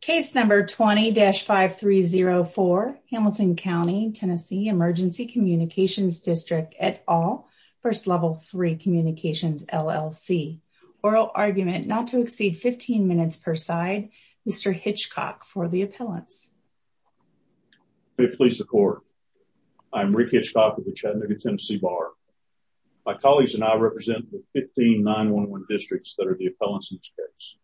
Case number 20-5304 Hamilton County TN Emergency Communications District et al. First Level 3 Communications LLC. Oral argument not to exceed 15 minutes per side. Mr. Hitchcock for the appellants. May it please the court. I'm Rick Hitchcock with the Chattanooga Tennessee Bar. My colleagues and I represent the 15 9-1-1 districts that are the appellants in this case.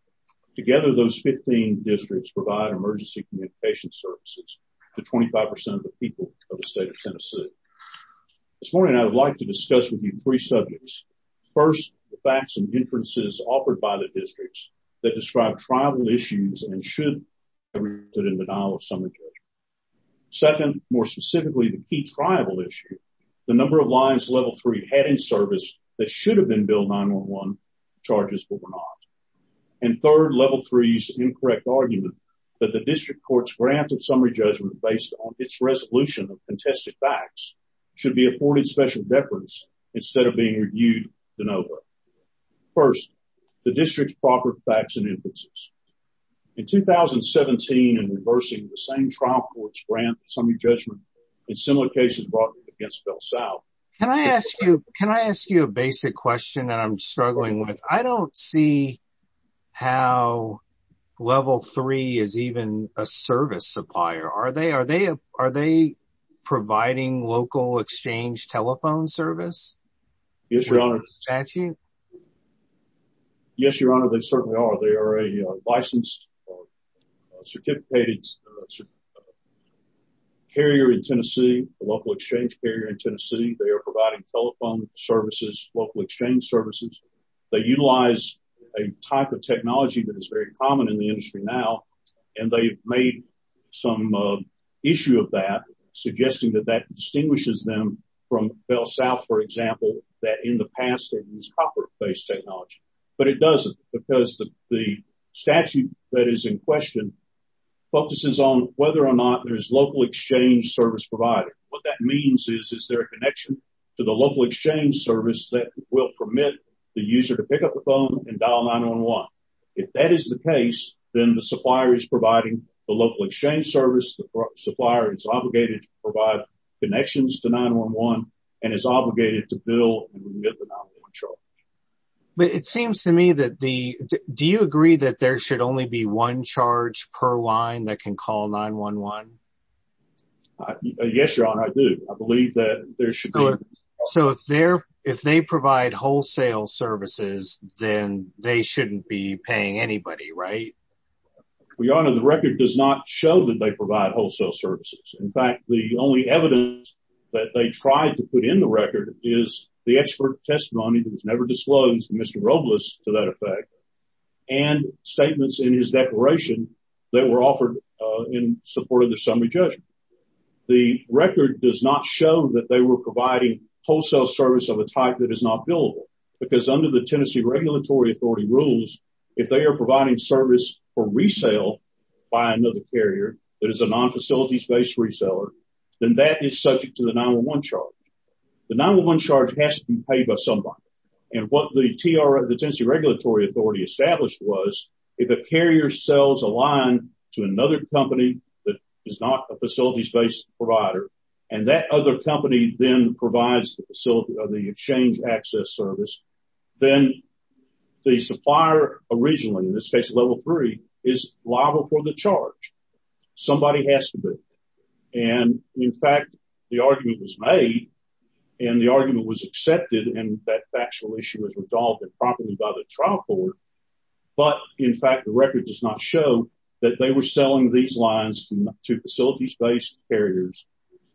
Together those 15 districts provide emergency communications services to 25% of the people of the state of Tennessee. This morning I would like to discuss with you three subjects. First, the facts and inferences offered by the districts that describe tribal issues and should not be included in the denial of summary judgment. Second, more specifically, the key tribal issue. The number of lines Level 3 had in service that should have been Bill 9-1-1 charges but were not. And third, Level 3's incorrect argument that the district court's grant of summary judgment based on its resolution of contested facts should be afforded special deference instead of being reviewed de novo. First, the district's proper facts and inferences. In 2017, in reversing the same trial court's grant summary judgment in similar cases brought up against Bell South. Can I ask you, can I ask you a basic question that I'm struggling with? I don't see how Level 3 is even a service supplier. Are they providing local exchange telephone service? Yes, Your Honor. Yes, Your Honor, they certainly are. They are a licensed certificated carrier in Tennessee, a local exchange carrier in Tennessee. They are providing telephone services, local exchange services. They utilize a type of technology that is very common in the industry now, and they've made some issue of that, suggesting that that distinguishes them from Bell South, for example, that in the past they used copper-based technology. But it doesn't because the statute that is in question focuses on whether or not there's local exchange service provided. What that means is, is there a connection to the local exchange service that will permit the user to pick up the phone and dial 9-1-1. If that is the case, then the supplier is providing the local exchange service. The supplier is obligated to provide connections to 9-1-1 and is obligated to bill and remit the 9-1-1 charge. But it seems to me that the, do you agree that there should only be one charge per line that can call 9-1-1? Yes, Your Honor, I do. I believe that there should be. So if they're, if they provide wholesale services, then they shouldn't be paying anybody, right? Well, Your Honor, the record does not show that they provide wholesale services. In fact, the only evidence that they tried to put in the record is the expert testimony that was never disclosed, Mr. Robles to that effect, and statements in his declaration that were offered in support of the summary judgment. The record does not show that they were providing wholesale service of a type that is not billable because under the Tennessee Regulatory Authority rules, if they are providing service for resale by another carrier that is a non-facilities-based reseller, then that is subject to the 9-1-1 charge. The 9-1-1 charge has to be paid by somebody. And what the Tennessee Regulatory Authority established was, if a carrier sells a line to another company that is not a facilities-based provider, and that other company then provides the facility or the exchange access service, then the supplier originally, in this case level three, is liable for the charge. Somebody has to be. And, in fact, the argument was made, and the argument was accepted, and that factual issue was resolved improperly by the trial court. But, in fact, the record does not show that they were selling these lines to facilities-based carriers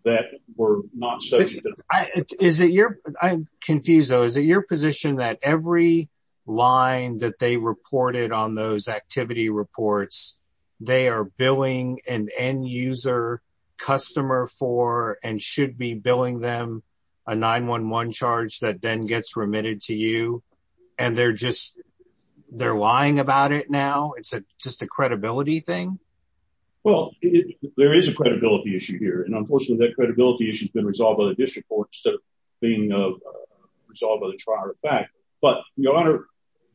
that were not subject to the 9-1-1 charge. I'm confused, though. Is it your position that every line that they reported on those activity reports, they are billing an end-user customer for and should be billing them a 9-1-1 charge that then gets remitted to you, and they're lying about it now? It's just a credibility thing? Well, there is a credibility issue here. And, unfortunately, that credibility issue has been resolved by the trial court. But, your honor,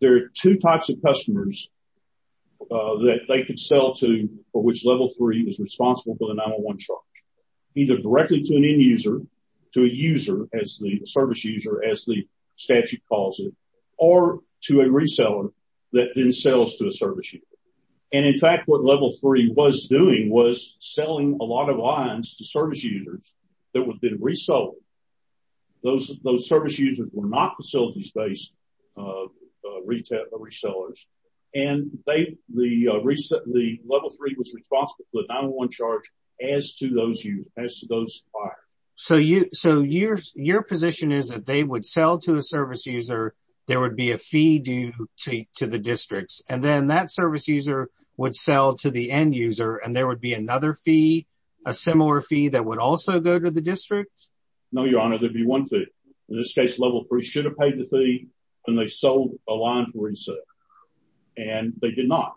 there are two types of customers that they could sell to for which level three is responsible for the 9-1-1 charge, either directly to an end-user, to a user as the service user, as the statute calls it, or to a reseller that then sells to a service user. And, in fact, what level three was doing was selling a lot of lines to service users that would have been resold. Those service users were not facilities-based resellers. And, the level three was responsible for the 9-1-1 charge as to those suppliers. So, your position is that they would sell to a service user, there would be a fee due to the districts, and then that service user would sell to the end-user, and there would be another fee, a similar fee, that would also go to the district? No, your honor, there'd be one fee. In this case, level three should have paid the fee, and they sold a line for resale. And, they did not.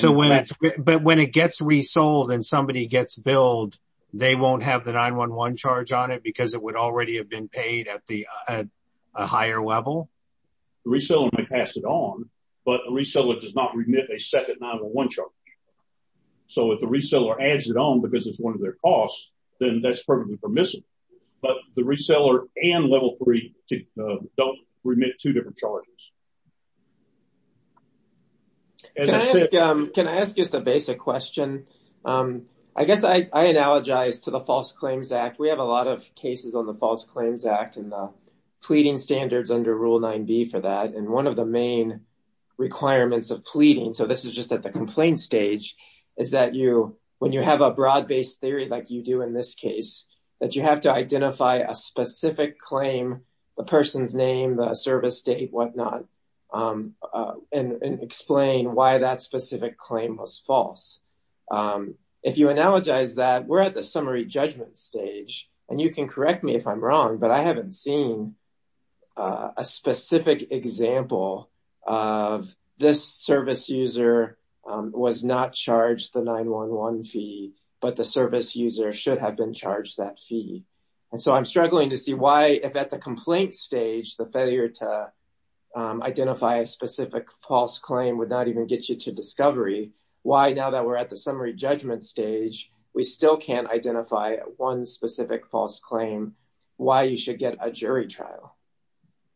But, when it gets resold, and somebody gets billed, they won't have the 9-1-1 charge on it because it would already have been paid at a higher level? The reseller may pass it on, but the reseller does not remit a second 9-1-1 charge. If the reseller adds it on because it's one of their costs, then that's perfectly permissible. But, the reseller and level three don't remit two different charges. Can I ask just a basic question? I guess I analogize to the False Claims Act. We have a lot of cases on the False Claims Act and the pleading standards under Rule 9b for that, and one of the main requirements of pleading, so this is just at the complaint stage, is that when you have a broad-based theory like you do in this case, that you have to identify a specific claim, the person's name, the service date, whatnot, and explain why that specific claim was false. If you analogize that, we're at the summary judgment stage, and you can correct me if I'm wrong, but I haven't seen a specific example of, this service user was not charged the 9-1-1 fee, but the service user should have been charged that fee. And so, I'm struggling to see why, if at the complaint stage, the failure to identify a specific false claim would not even get you to discovery, why now that we're at the summary judgment stage, we still can't identify one specific false claim, why you should get a jury trial.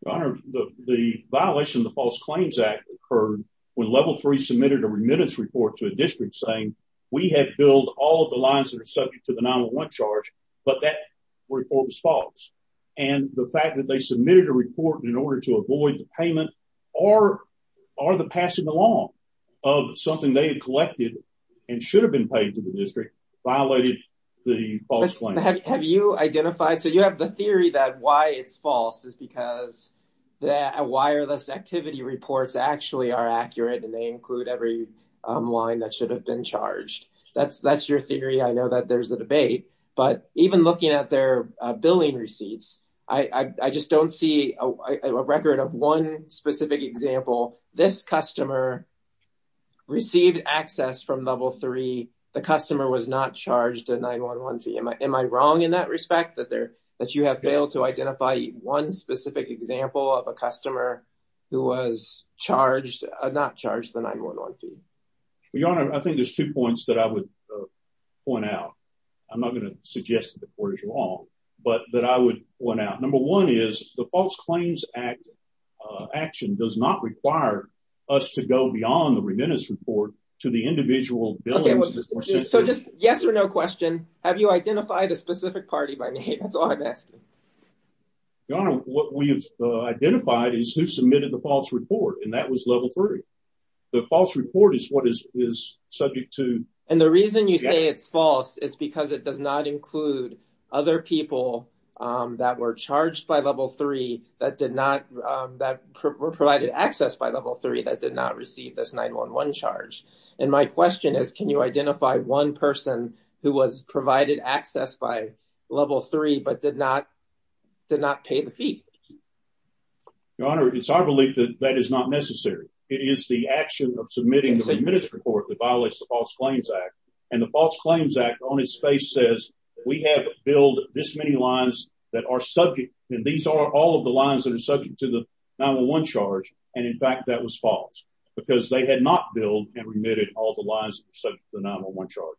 Your Honor, the violation of the False Claims Act occurred when Level 3 submitted a remittance report to a district saying, we have billed all of the lines that are subject to the 9-1-1 charge, but that report was false. And the fact that they submitted a report in order to avoid the payment, or the passing along of something they had collected and should have been paid to the district, violated the false claim. Have you identified, so you have the theory that why it's false is because the wireless activity reports actually are accurate and they include every line that should have been charged. That's your theory, I know that there's a debate, but even looking at their billing receipts, I just don't see a record of one specific example, this customer received access from Level 3, the customer was not charged a 9-1-1 fee. Am I wrong in that respect, that you have failed to identify one specific example of a customer who was charged, not charged the 9-1-1 fee? Your Honor, I think there's two points that I would point out. I'm not going to suggest that the court is wrong, but that I would point out. Number one is the False Claims Act action does not require us to go beyond the remittance report to the specific party by name, that's all I'm asking. Your Honor, what we have identified is who submitted the false report, and that was Level 3. The false report is what is subject to... And the reason you say it's false is because it does not include other people that were charged by Level 3 that did not, that were provided access by Level 3 that did not receive this 9-1-1 charge. And my question is, can you identify one person who was provided access by Level 3, but did not, did not pay the fee? Your Honor, it's our belief that that is not necessary. It is the action of submitting the remittance report that violates the False Claims Act. And the False Claims Act on its face says, we have billed this many lines that are subject, and these are all of the lines that are subject to the 9-1-1 charge. And in fact, that was false, because they had not billed and remitted all the lines that are subject to the 9-1-1 charge.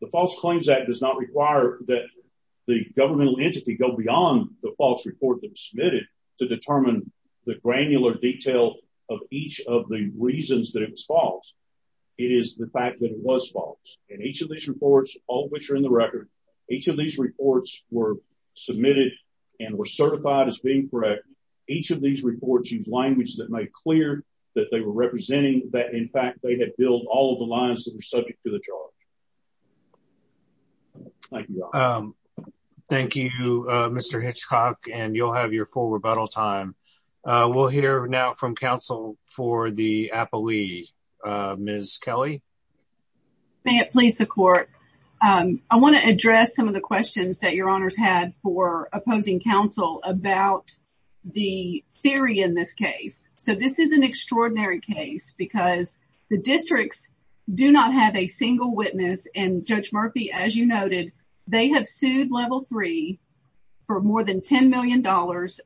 The False Claims Act does not require that the governmental entity go beyond the false report that was submitted to determine the granular detail of each of the reasons that it was false. It is the fact that it was false. And each of these reports, all of which are in the record, each of these reports were submitted and were certified as being correct. Each of these reports use language that made clear that they were representing that in fact they had billed all of the lines that were subject to the charge. Thank you. Thank you, Mr. Hitchcock. And you'll have your full rebuttal time. We'll hear now from counsel for the appellee, Ms. Kelly. May it please the Court. I want to address some of the questions that Your Honors had for the theory in this case. So this is an extraordinary case because the districts do not have a single witness. And Judge Murphy, as you noted, they have sued Level 3 for more than $10 million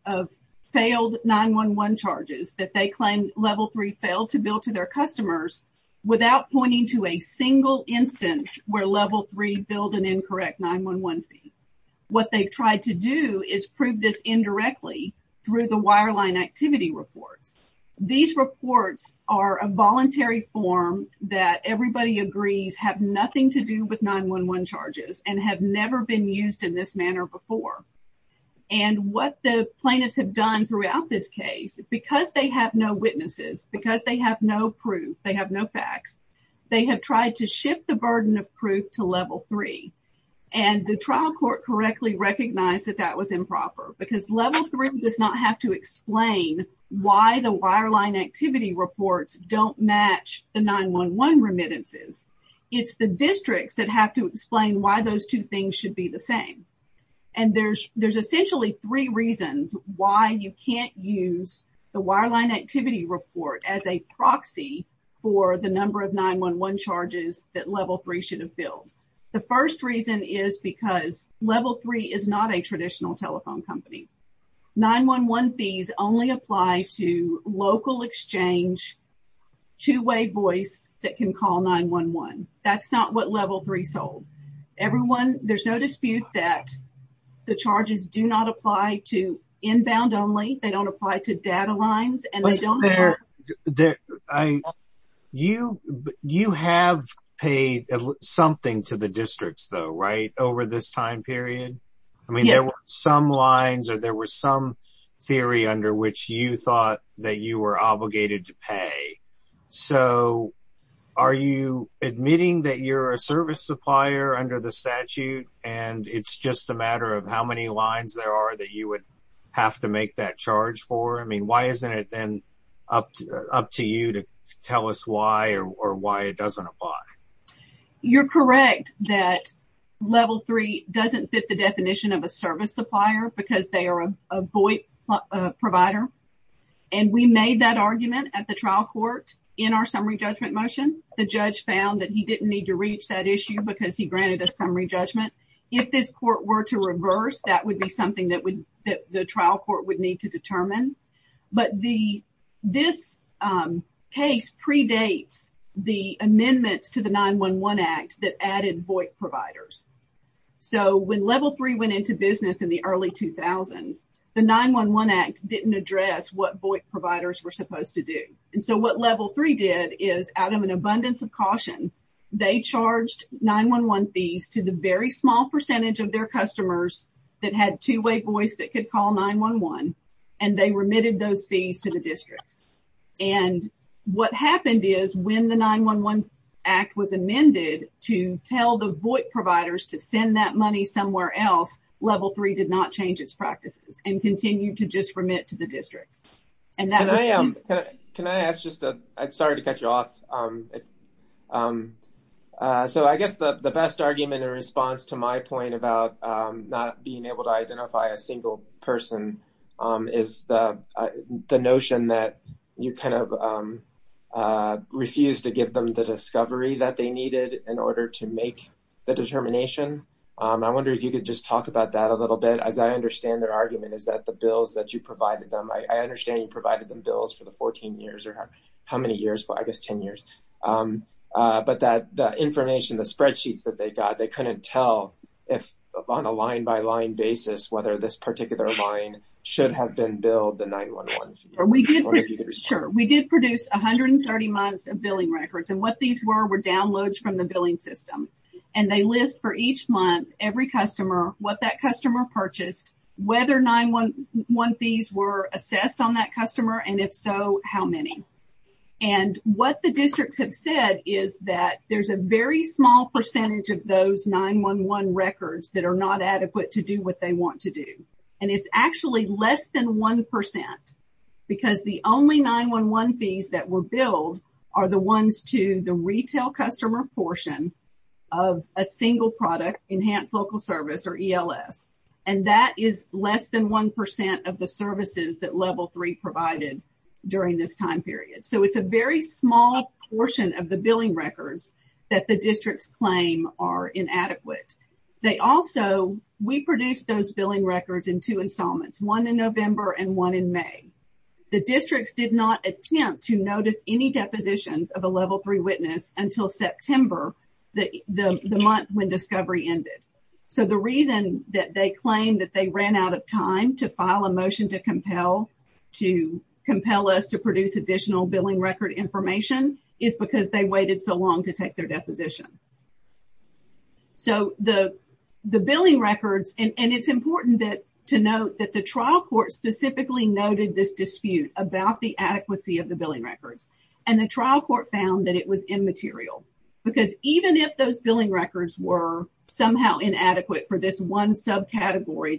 of failed 9-1-1 charges that they claim Level 3 failed to bill to their customers without pointing to a single instance where Level 3 billed an incorrect 9-1-1 fee. What they've tried to do is prove this indirectly through the wireline activity reports. These reports are a voluntary form that everybody agrees have nothing to do with 9-1-1 charges and have never been used in this manner before. And what the plaintiffs have done throughout this case, because they have no witnesses, because they have no proof, they have no facts, they have tried to correctly recognize that that was improper. Because Level 3 does not have to explain why the wireline activity reports don't match the 9-1-1 remittances. It's the districts that have to explain why those two things should be the same. And there's essentially three reasons why you can't use the wireline activity report as a proxy for the number of 9-1-1 charges that Level 3 should have billed. The first reason is because Level 3 is not a traditional telephone company. 9-1-1 fees only apply to local exchange two-way voice that can call 9-1-1. That's not what Level 3 sold. Everyone, there's no dispute that the charges do not apply to inbound only. They don't pay something to the districts though, right, over this time period. I mean, there were some lines, or there was some theory under which you thought that you were obligated to pay. So, are you admitting that you're a service supplier under the statute, and it's just a matter of how many lines there are that you would have to make that charge for? I mean, why isn't it then up to you to tell us why or why it doesn't apply? You're correct that Level 3 doesn't fit the definition of a service supplier because they are a voice provider. And we made that argument at the trial court in our summary judgment motion. The judge found that he didn't need to reach that issue because he granted a summary judgment. If this court were to reverse, that would be something that the trial court would need to determine. But this case predates the amendments to the 9-1-1 Act that added voice providers. So, when Level 3 went into business in the early 2000s, the 9-1-1 Act didn't address what voice providers were supposed to do. And so, what Level 3 did is, out of an abundance of caution, they charged 9-1-1 fees to the very percentage of their customers that had two-way voice that could call 9-1-1, and they remitted those fees to the districts. And what happened is, when the 9-1-1 Act was amended to tell the voice providers to send that money somewhere else, Level 3 did not change its practices and continued to just remit to the districts. And that was... Can I ask just a... Sorry to cut you off. If... So, I guess the best argument in response to my point about not being able to identify a single person is the notion that you kind of refused to give them the discovery that they needed in order to make the determination. I wonder if you could just talk about that a little bit, as I understand their argument, is that the bills that you provided them... I understand you have, I guess, 10 years. But that information, the spreadsheets that they got, they couldn't tell if on a line-by-line basis, whether this particular line should have been billed the 9-1-1 fee. Or if you could just... Sure. We did produce 130 months of billing records. And what these were, were downloads from the billing system. And they list for each month, every customer, what that customer purchased, whether 9-1-1 fees were assessed on that customer, and if so, how many. And what the districts have said is that there's a very small percentage of those 9-1-1 records that are not adequate to do what they want to do. And it's actually less than 1%, because the only 9-1-1 fees that were billed are the ones to the retail customer portion of a single product, Enhanced Local Service, or ELS. And that is less than 1% of the services that Level 3 provided during this time period. So, it's a very small portion of the billing records that the districts claim are inadequate. They also... We produced those billing records in two installments, one in November and one in May. The districts did not attempt to notice any depositions of a Level 3 witness until September, the month when discovery ended. So, the reason that they claim that they ran out of time to file a motion to compel us to produce additional billing record information is because they waited so long to take their deposition. So, the billing records... And it's important to note that the trial court specifically noted this dispute about the adequacy of the billing records. And the trial court found that it was subcategory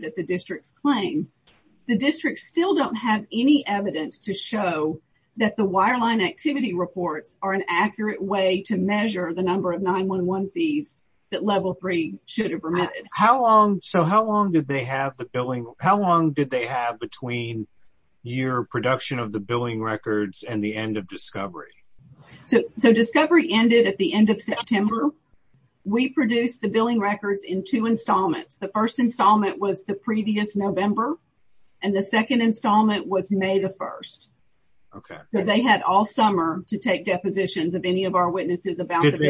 that the districts claim. The districts still don't have any evidence to show that the wireline activity reports are an accurate way to measure the number of 9-1-1 fees that Level 3 should have remitted. How long... So, how long did they have the billing... How long did they have between your production of the billing records and the end of discovery? So, discovery ended at the end of September. We produced the billing records in two installments. The first installment was the previous November, and the second installment was May the 1st. Okay. So, they had all summer to take depositions of any of our witnesses about the billing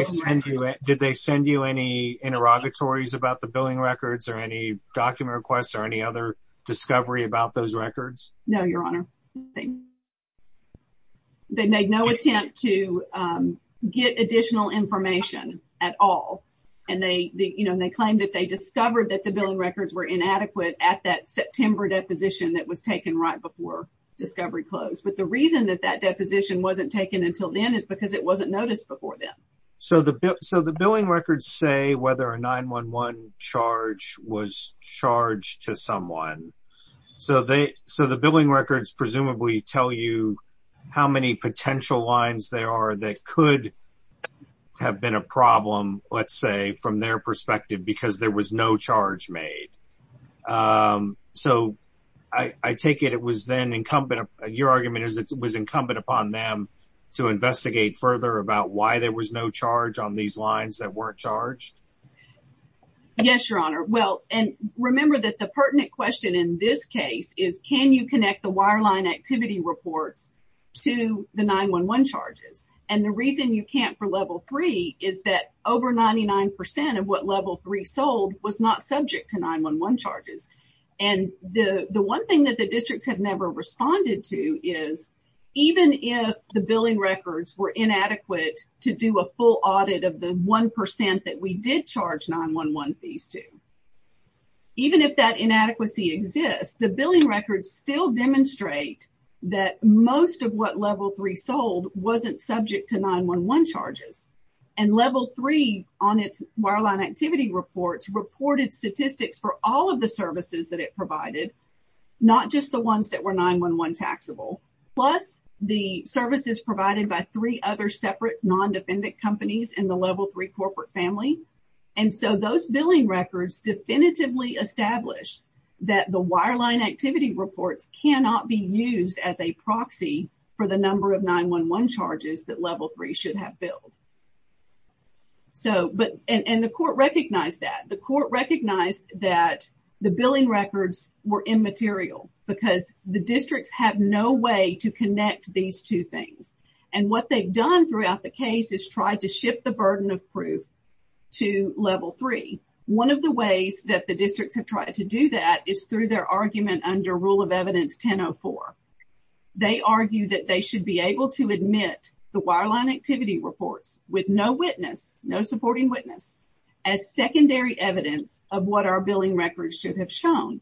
records. Did they send you any interrogatories about the billing records or any document requests or any other discovery about those records? No, Your Honor. They made no attempt to get additional information at all. And they claimed that they discovered that the billing records were inadequate at that September deposition that was taken right before discovery closed. But the reason that that deposition wasn't taken until then is because it wasn't noticed before then. So, the billing records say whether a 9-1-1 charge was charged to someone. So, the billing records presumably tell you how many potential lines there are that could have been a problem, let's say, from their perspective because there was no charge made. So, I take it it was then incumbent, your argument is it was incumbent upon them to investigate further about why there was no charge on these lines that weren't charged? Yes, Your Honor. Well, and remember that the pertinent question in this case is, can you connect the wireline activity reports to the 9-1-1 charges? And the reason you can't for Level 3 is that over 99 percent of what Level 3 sold was not subject to 9-1-1 charges. And the one thing that the districts have never responded to is even if the billing records were inadequate to do a full audit of the 1 percent that we did charge 9-1-1 fees to, even if that inadequacy exists, the billing records still demonstrate that most of what Level 3 sold wasn't subject to 9-1-1 charges. And Level 3 on its wireline activity reports reported statistics for all of the services that it provided, not just the ones that were 9-1-1 taxable, plus the services provided by three other separate non-defendant companies in the Level 3 corporate family. And so, those billing records definitively established that the wireline activity reports cannot be used as a proxy for the number of 9-1-1 charges that Level 3 should have billed. So, but, and the court recognized that. The court recognized that the billing records were immaterial because the districts have no way to connect these two things. And what they've done throughout the case is try to shift the burden of proof to Level 3. One of the ways that the Districts have done that is they've created a section under Rule of Evidence 10-04. They argue that they should be able to admit the wireline activity reports with no witness, no supporting witness, as secondary evidence of what our billing records should have shown.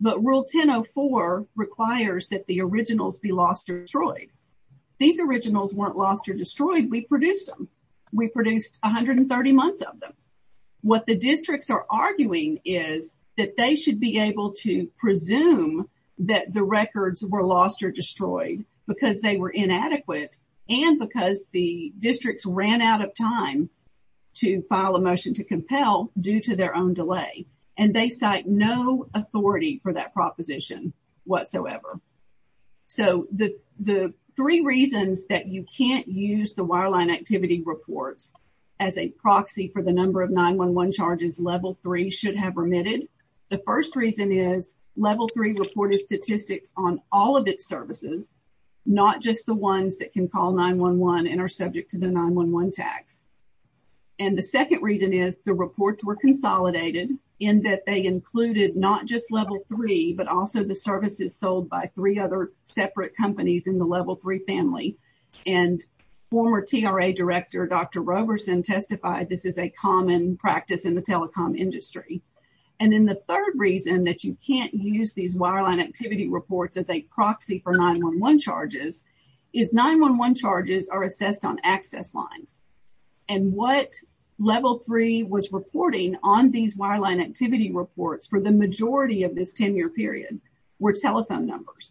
But Rule 10-04 requires that the originals be lost or destroyed. These originals weren't lost or destroyed. We produced them. We produced 130 months of them. What the districts are arguing is that they should be able to presume that the records were lost or destroyed because they were inadequate and because the districts ran out of time to file a motion to compel due to their own delay. And they cite no authority for that proposition whatsoever. So, the 9-1-1 charges Level 3 should have remitted. The first reason is Level 3 reported statistics on all of its services, not just the ones that can call 9-1-1 and are subject to the 9-1-1 tax. And the second reason is the reports were consolidated in that they included not just Level 3, but also the services sold by three other separate companies in the Level 3 family. And former TRA Director Dr. Roberson testified this is a common practice in the telecom industry. And then the third reason that you can't use these wireline activity reports as a proxy for 9-1-1 charges is 9-1-1 charges are assessed on access lines. And what Level 3 was reporting on these wireline activity reports for the majority of this 10-year period were telephone numbers.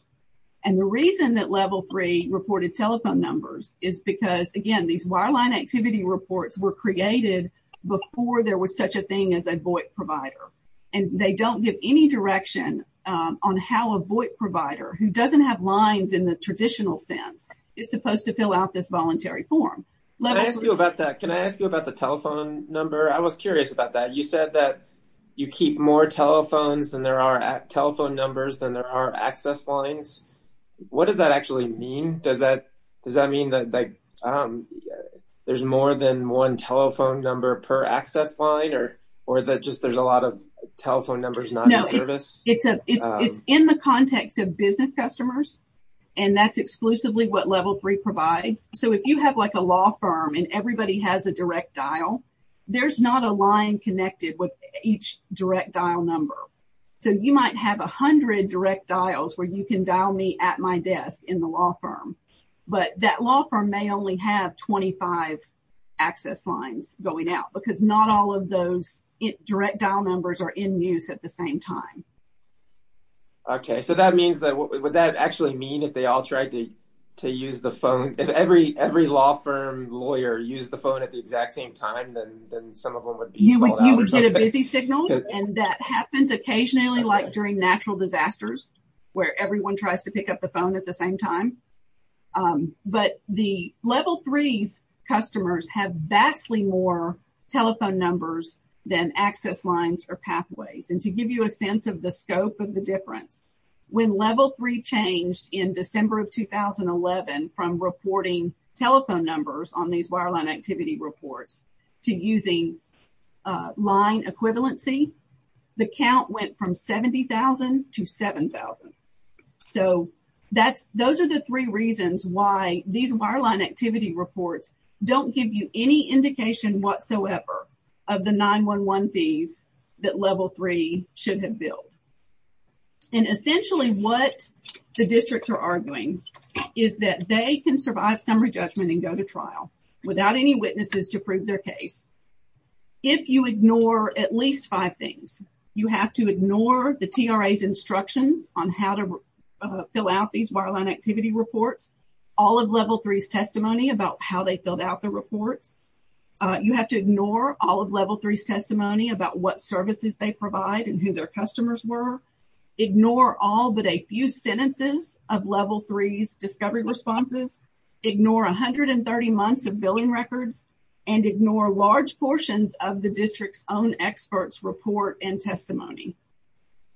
And the reason Level 3 reported telephone numbers is because, again, these wireline activity reports were created before there was such a thing as a VOIP provider. And they don't give any direction on how a VOIP provider, who doesn't have lines in the traditional sense, is supposed to fill out this voluntary form. Can I ask you about that? Can I ask you about the telephone number? I was curious about that. You said that you keep more telephone numbers than there are access lines. What does that actually mean? Does that mean that there's more than one telephone number per access line or that just there's a lot of telephone numbers not in service? No. It's in the context of business customers. And that's exclusively what Level 3 provides. So, if you have like a law firm and everybody has a direct dial, there's not a line connected with each direct dial number. So, you might have 100 direct dials where you can dial me at my desk in the law firm. But that law firm may only have 25 access lines going out because not all of those direct dial numbers are in use at the same time. Okay. So, that means that, would that actually mean if they all tried to use the phone, if every law firm lawyer used the phone at the exact same time, then some of them would be sold and that happens occasionally like during natural disasters where everyone tries to pick up the phone at the same time. But the Level 3's customers have vastly more telephone numbers than access lines or pathways. And to give you a sense of the scope of the difference, when Level 3 changed in December of 2011 from reporting telephone numbers on these equivalency, the count went from 70,000 to 7,000. So, those are the three reasons why these wireline activity reports don't give you any indication whatsoever of the 9-1-1 fees that Level 3 should have billed. And essentially what the districts are arguing is that they can at least five things. You have to ignore the TRA's instructions on how to fill out these wireline activity reports. All of Level 3's testimony about how they filled out the reports. You have to ignore all of Level 3's testimony about what services they provide and who their customers were. Ignore all but a few sentences of Level 3's discovery responses. Ignore 130 months of billing records. And ignore large portions of the district's own experts' report and testimony.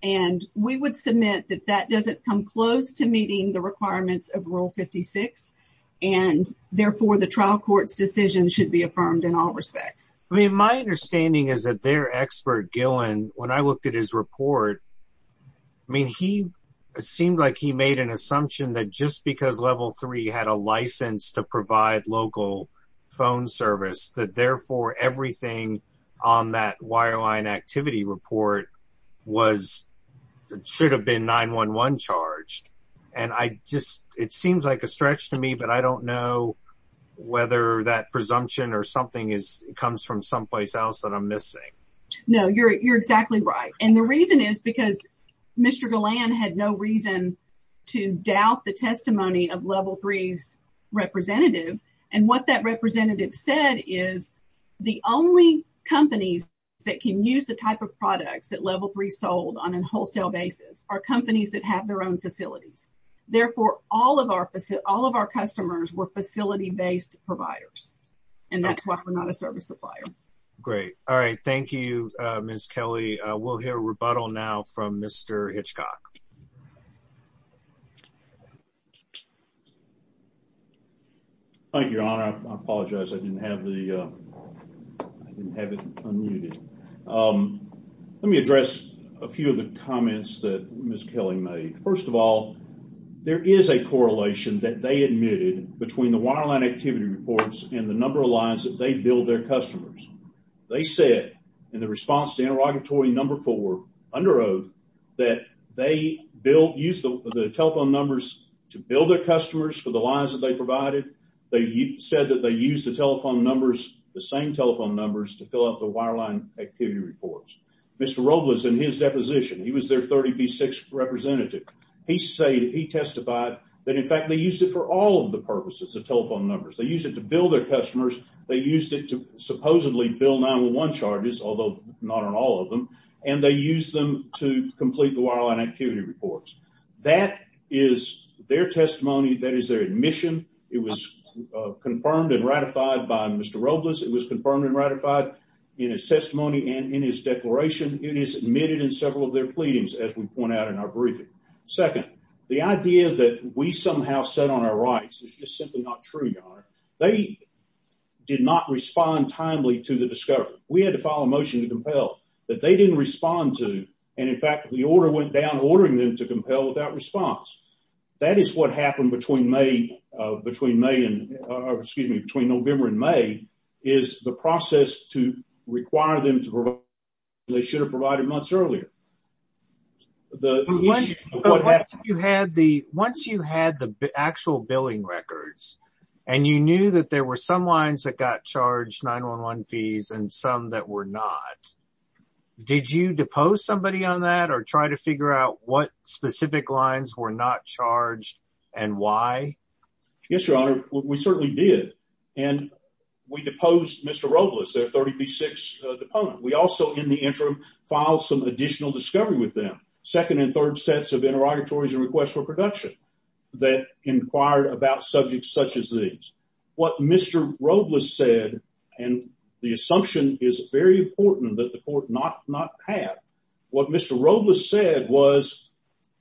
And we would submit that that doesn't come close to meeting the requirements of Rule 56. And therefore, the trial court's decision should be affirmed in all respects. I mean, my understanding is that their expert, Gillen, when I looked at his report, I mean, he seemed like he made an assumption that just because Level 3 had a license to local phone service, that therefore everything on that wireline activity report was, should have been 9-1-1 charged. And I just, it seems like a stretch to me, but I don't know whether that presumption or something comes from someplace else that I'm missing. No, you're exactly right. And the reason is because Mr. Gillen had no reason to doubt the testimony of Level 3's representative. And what that representative said is the only companies that can use the type of products that Level 3 sold on a wholesale basis are companies that have their own facilities. Therefore, all of our customers were facility-based providers. And that's why we're not a service supplier. Great. All right. Thank you, Ms. Kelly. We'll hear a rebuttal now from Mr. Hitchcock. Thank you, Your Honor. I apologize. I didn't have the, I didn't have it unmuted. Let me address a few of the comments that Ms. Kelly made. First of all, there is a correlation that they admitted between the wireline activity reports and the number of lines that they billed customers. They said in the response to interrogatory number four, under oath, that they billed, used the telephone numbers to bill their customers for the lines that they provided. They said that they used the telephone numbers, the same telephone numbers, to fill up the wireline activity reports. Mr. Robles, in his deposition, he was their 30B6 representative. He said, he testified that, in fact, they used it for all of the purposes of telephone numbers. They used it to bill their customers. They used it to supposedly bill 9-1-1 charges, although not on all of them. And they used them to complete the wireline activity reports. That is their testimony. That is their admission. It was confirmed and ratified by Mr. Robles. It was confirmed and ratified in his testimony and in his declaration. It is admitted in several of their pleadings, as we point out in our briefing. Second, the idea that we somehow sit on our rights is just simply not true, Your Honor. They did not respond timely to the discovery. We had to file a motion to compel that they didn't respond to. And, in fact, the order went down, ordering them to compel without response. That is what happened between May, between May and, excuse me, between November and May, is the process to require them to provide they should have provided months earlier. Once you had the actual billing records and you knew that there were some lines that got charged 9-1-1 fees and some that were not, did you depose somebody on that or try to figure out what specific lines were not charged and why? Yes, Your Honor, we certainly did. And we deposed Mr. Robles, their 30B6 deponent. We also, in the interim, filed some additional discovery with them, second and third sets of interrogatories and requests for production that inquired about subjects such as these. What Mr. Robles said, and the assumption is very important that the court not had, what Mr. Robles said was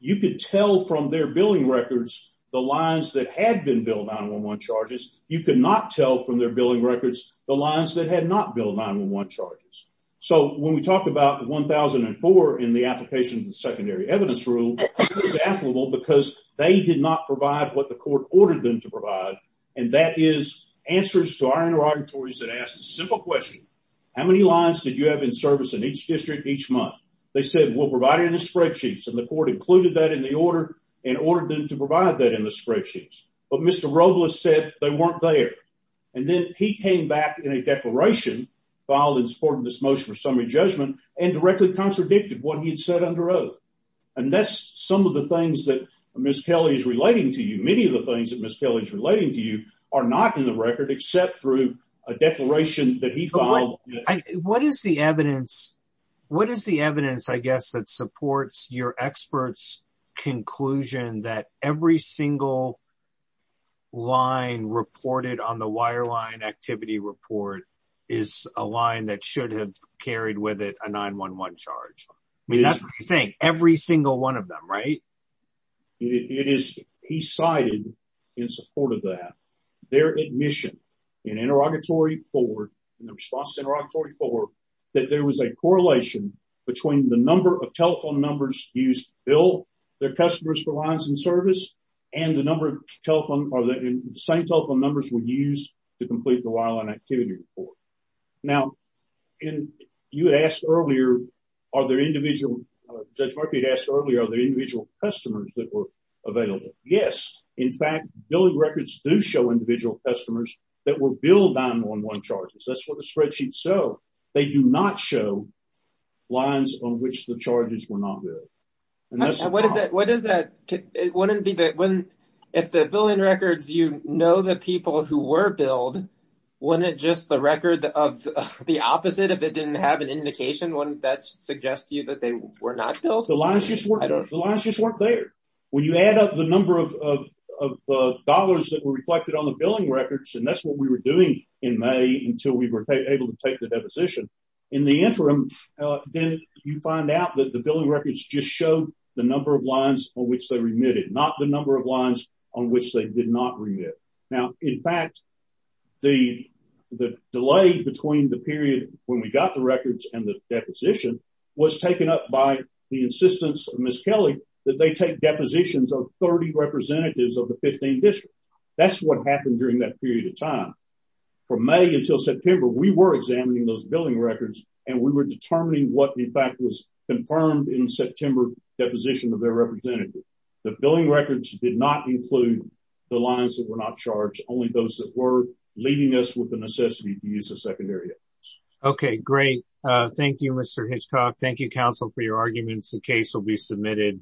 you could tell from their billing records the lines that had been billed 9-1-1 charges. You could not tell from their billing records the lines that had not billed 9-1-1 charges. So, when we talk about 1004 in the application of the secondary evidence rule, it was applicable because they did not provide what the court ordered them to provide, and that is answers to our interrogatories that asked a simple question. How many lines did you have in service in each district each month? They said, we'll provide it in the spreadsheets, and the court included that in the order and ordered them to provide that in the spreadsheets. But Mr. Robles said they weren't there. And then he came back in a declaration, filed in support of this motion for summary judgment, and directly contradicted what he had said under oath. And that's some of the things that Ms. Kelly is relating to you. Many of the things that Ms. Kelly is relating to you are not in the record except through a declaration that he filed. What is the evidence? What is the evidence, I guess, that supports your experts' conclusion that every single line reported on the wireline activity report is a line that should have carried with it a 9-1-1 charge? I mean, that's what you're saying, every single one of them, right? It is, he cited in support of that, their admission in interrogatory four, in the response to interrogatory four, that there was a correlation between the number of telephone numbers used to bill their customers for lines in service and the number of telephone, or the same telephone numbers were used to complete the individual customers that were available. Yes, in fact, billing records do show individual customers that were billed 9-1-1 charges. That's what the spreadsheets show. They do not show lines on which the charges were not billed. What is that? It wouldn't be that when, if the billing records, you know, the people who were billed, when it just the record of the opposite, if it didn't have an indication, wouldn't that suggest to you that they were not billed? The lines just weren't there. When you add up the number of dollars that were reflected on the billing records, and that's what we were doing in May until we were able to take the deposition, in the interim, then you find out that the billing records just show the number of lines on which they remitted, not the number of lines on which they did not remit. Now, in fact, the delay between the period when we got the records and the deposition was taken up by the insistence of Ms. Kelly that they take depositions of 30 representatives of the 15 districts. That's what happened during that period of time. From May until September, we were examining those billing records, and we were determining what, in fact, was confirmed in September deposition of their representative. The billing records did not include the lines that were not charged, only those that were, leaving us with the necessity to use the secondary evidence. Okay, great. Thank you, Mr. Hitchcock. Thank you, counsel, for your arguments. The case will be submitted.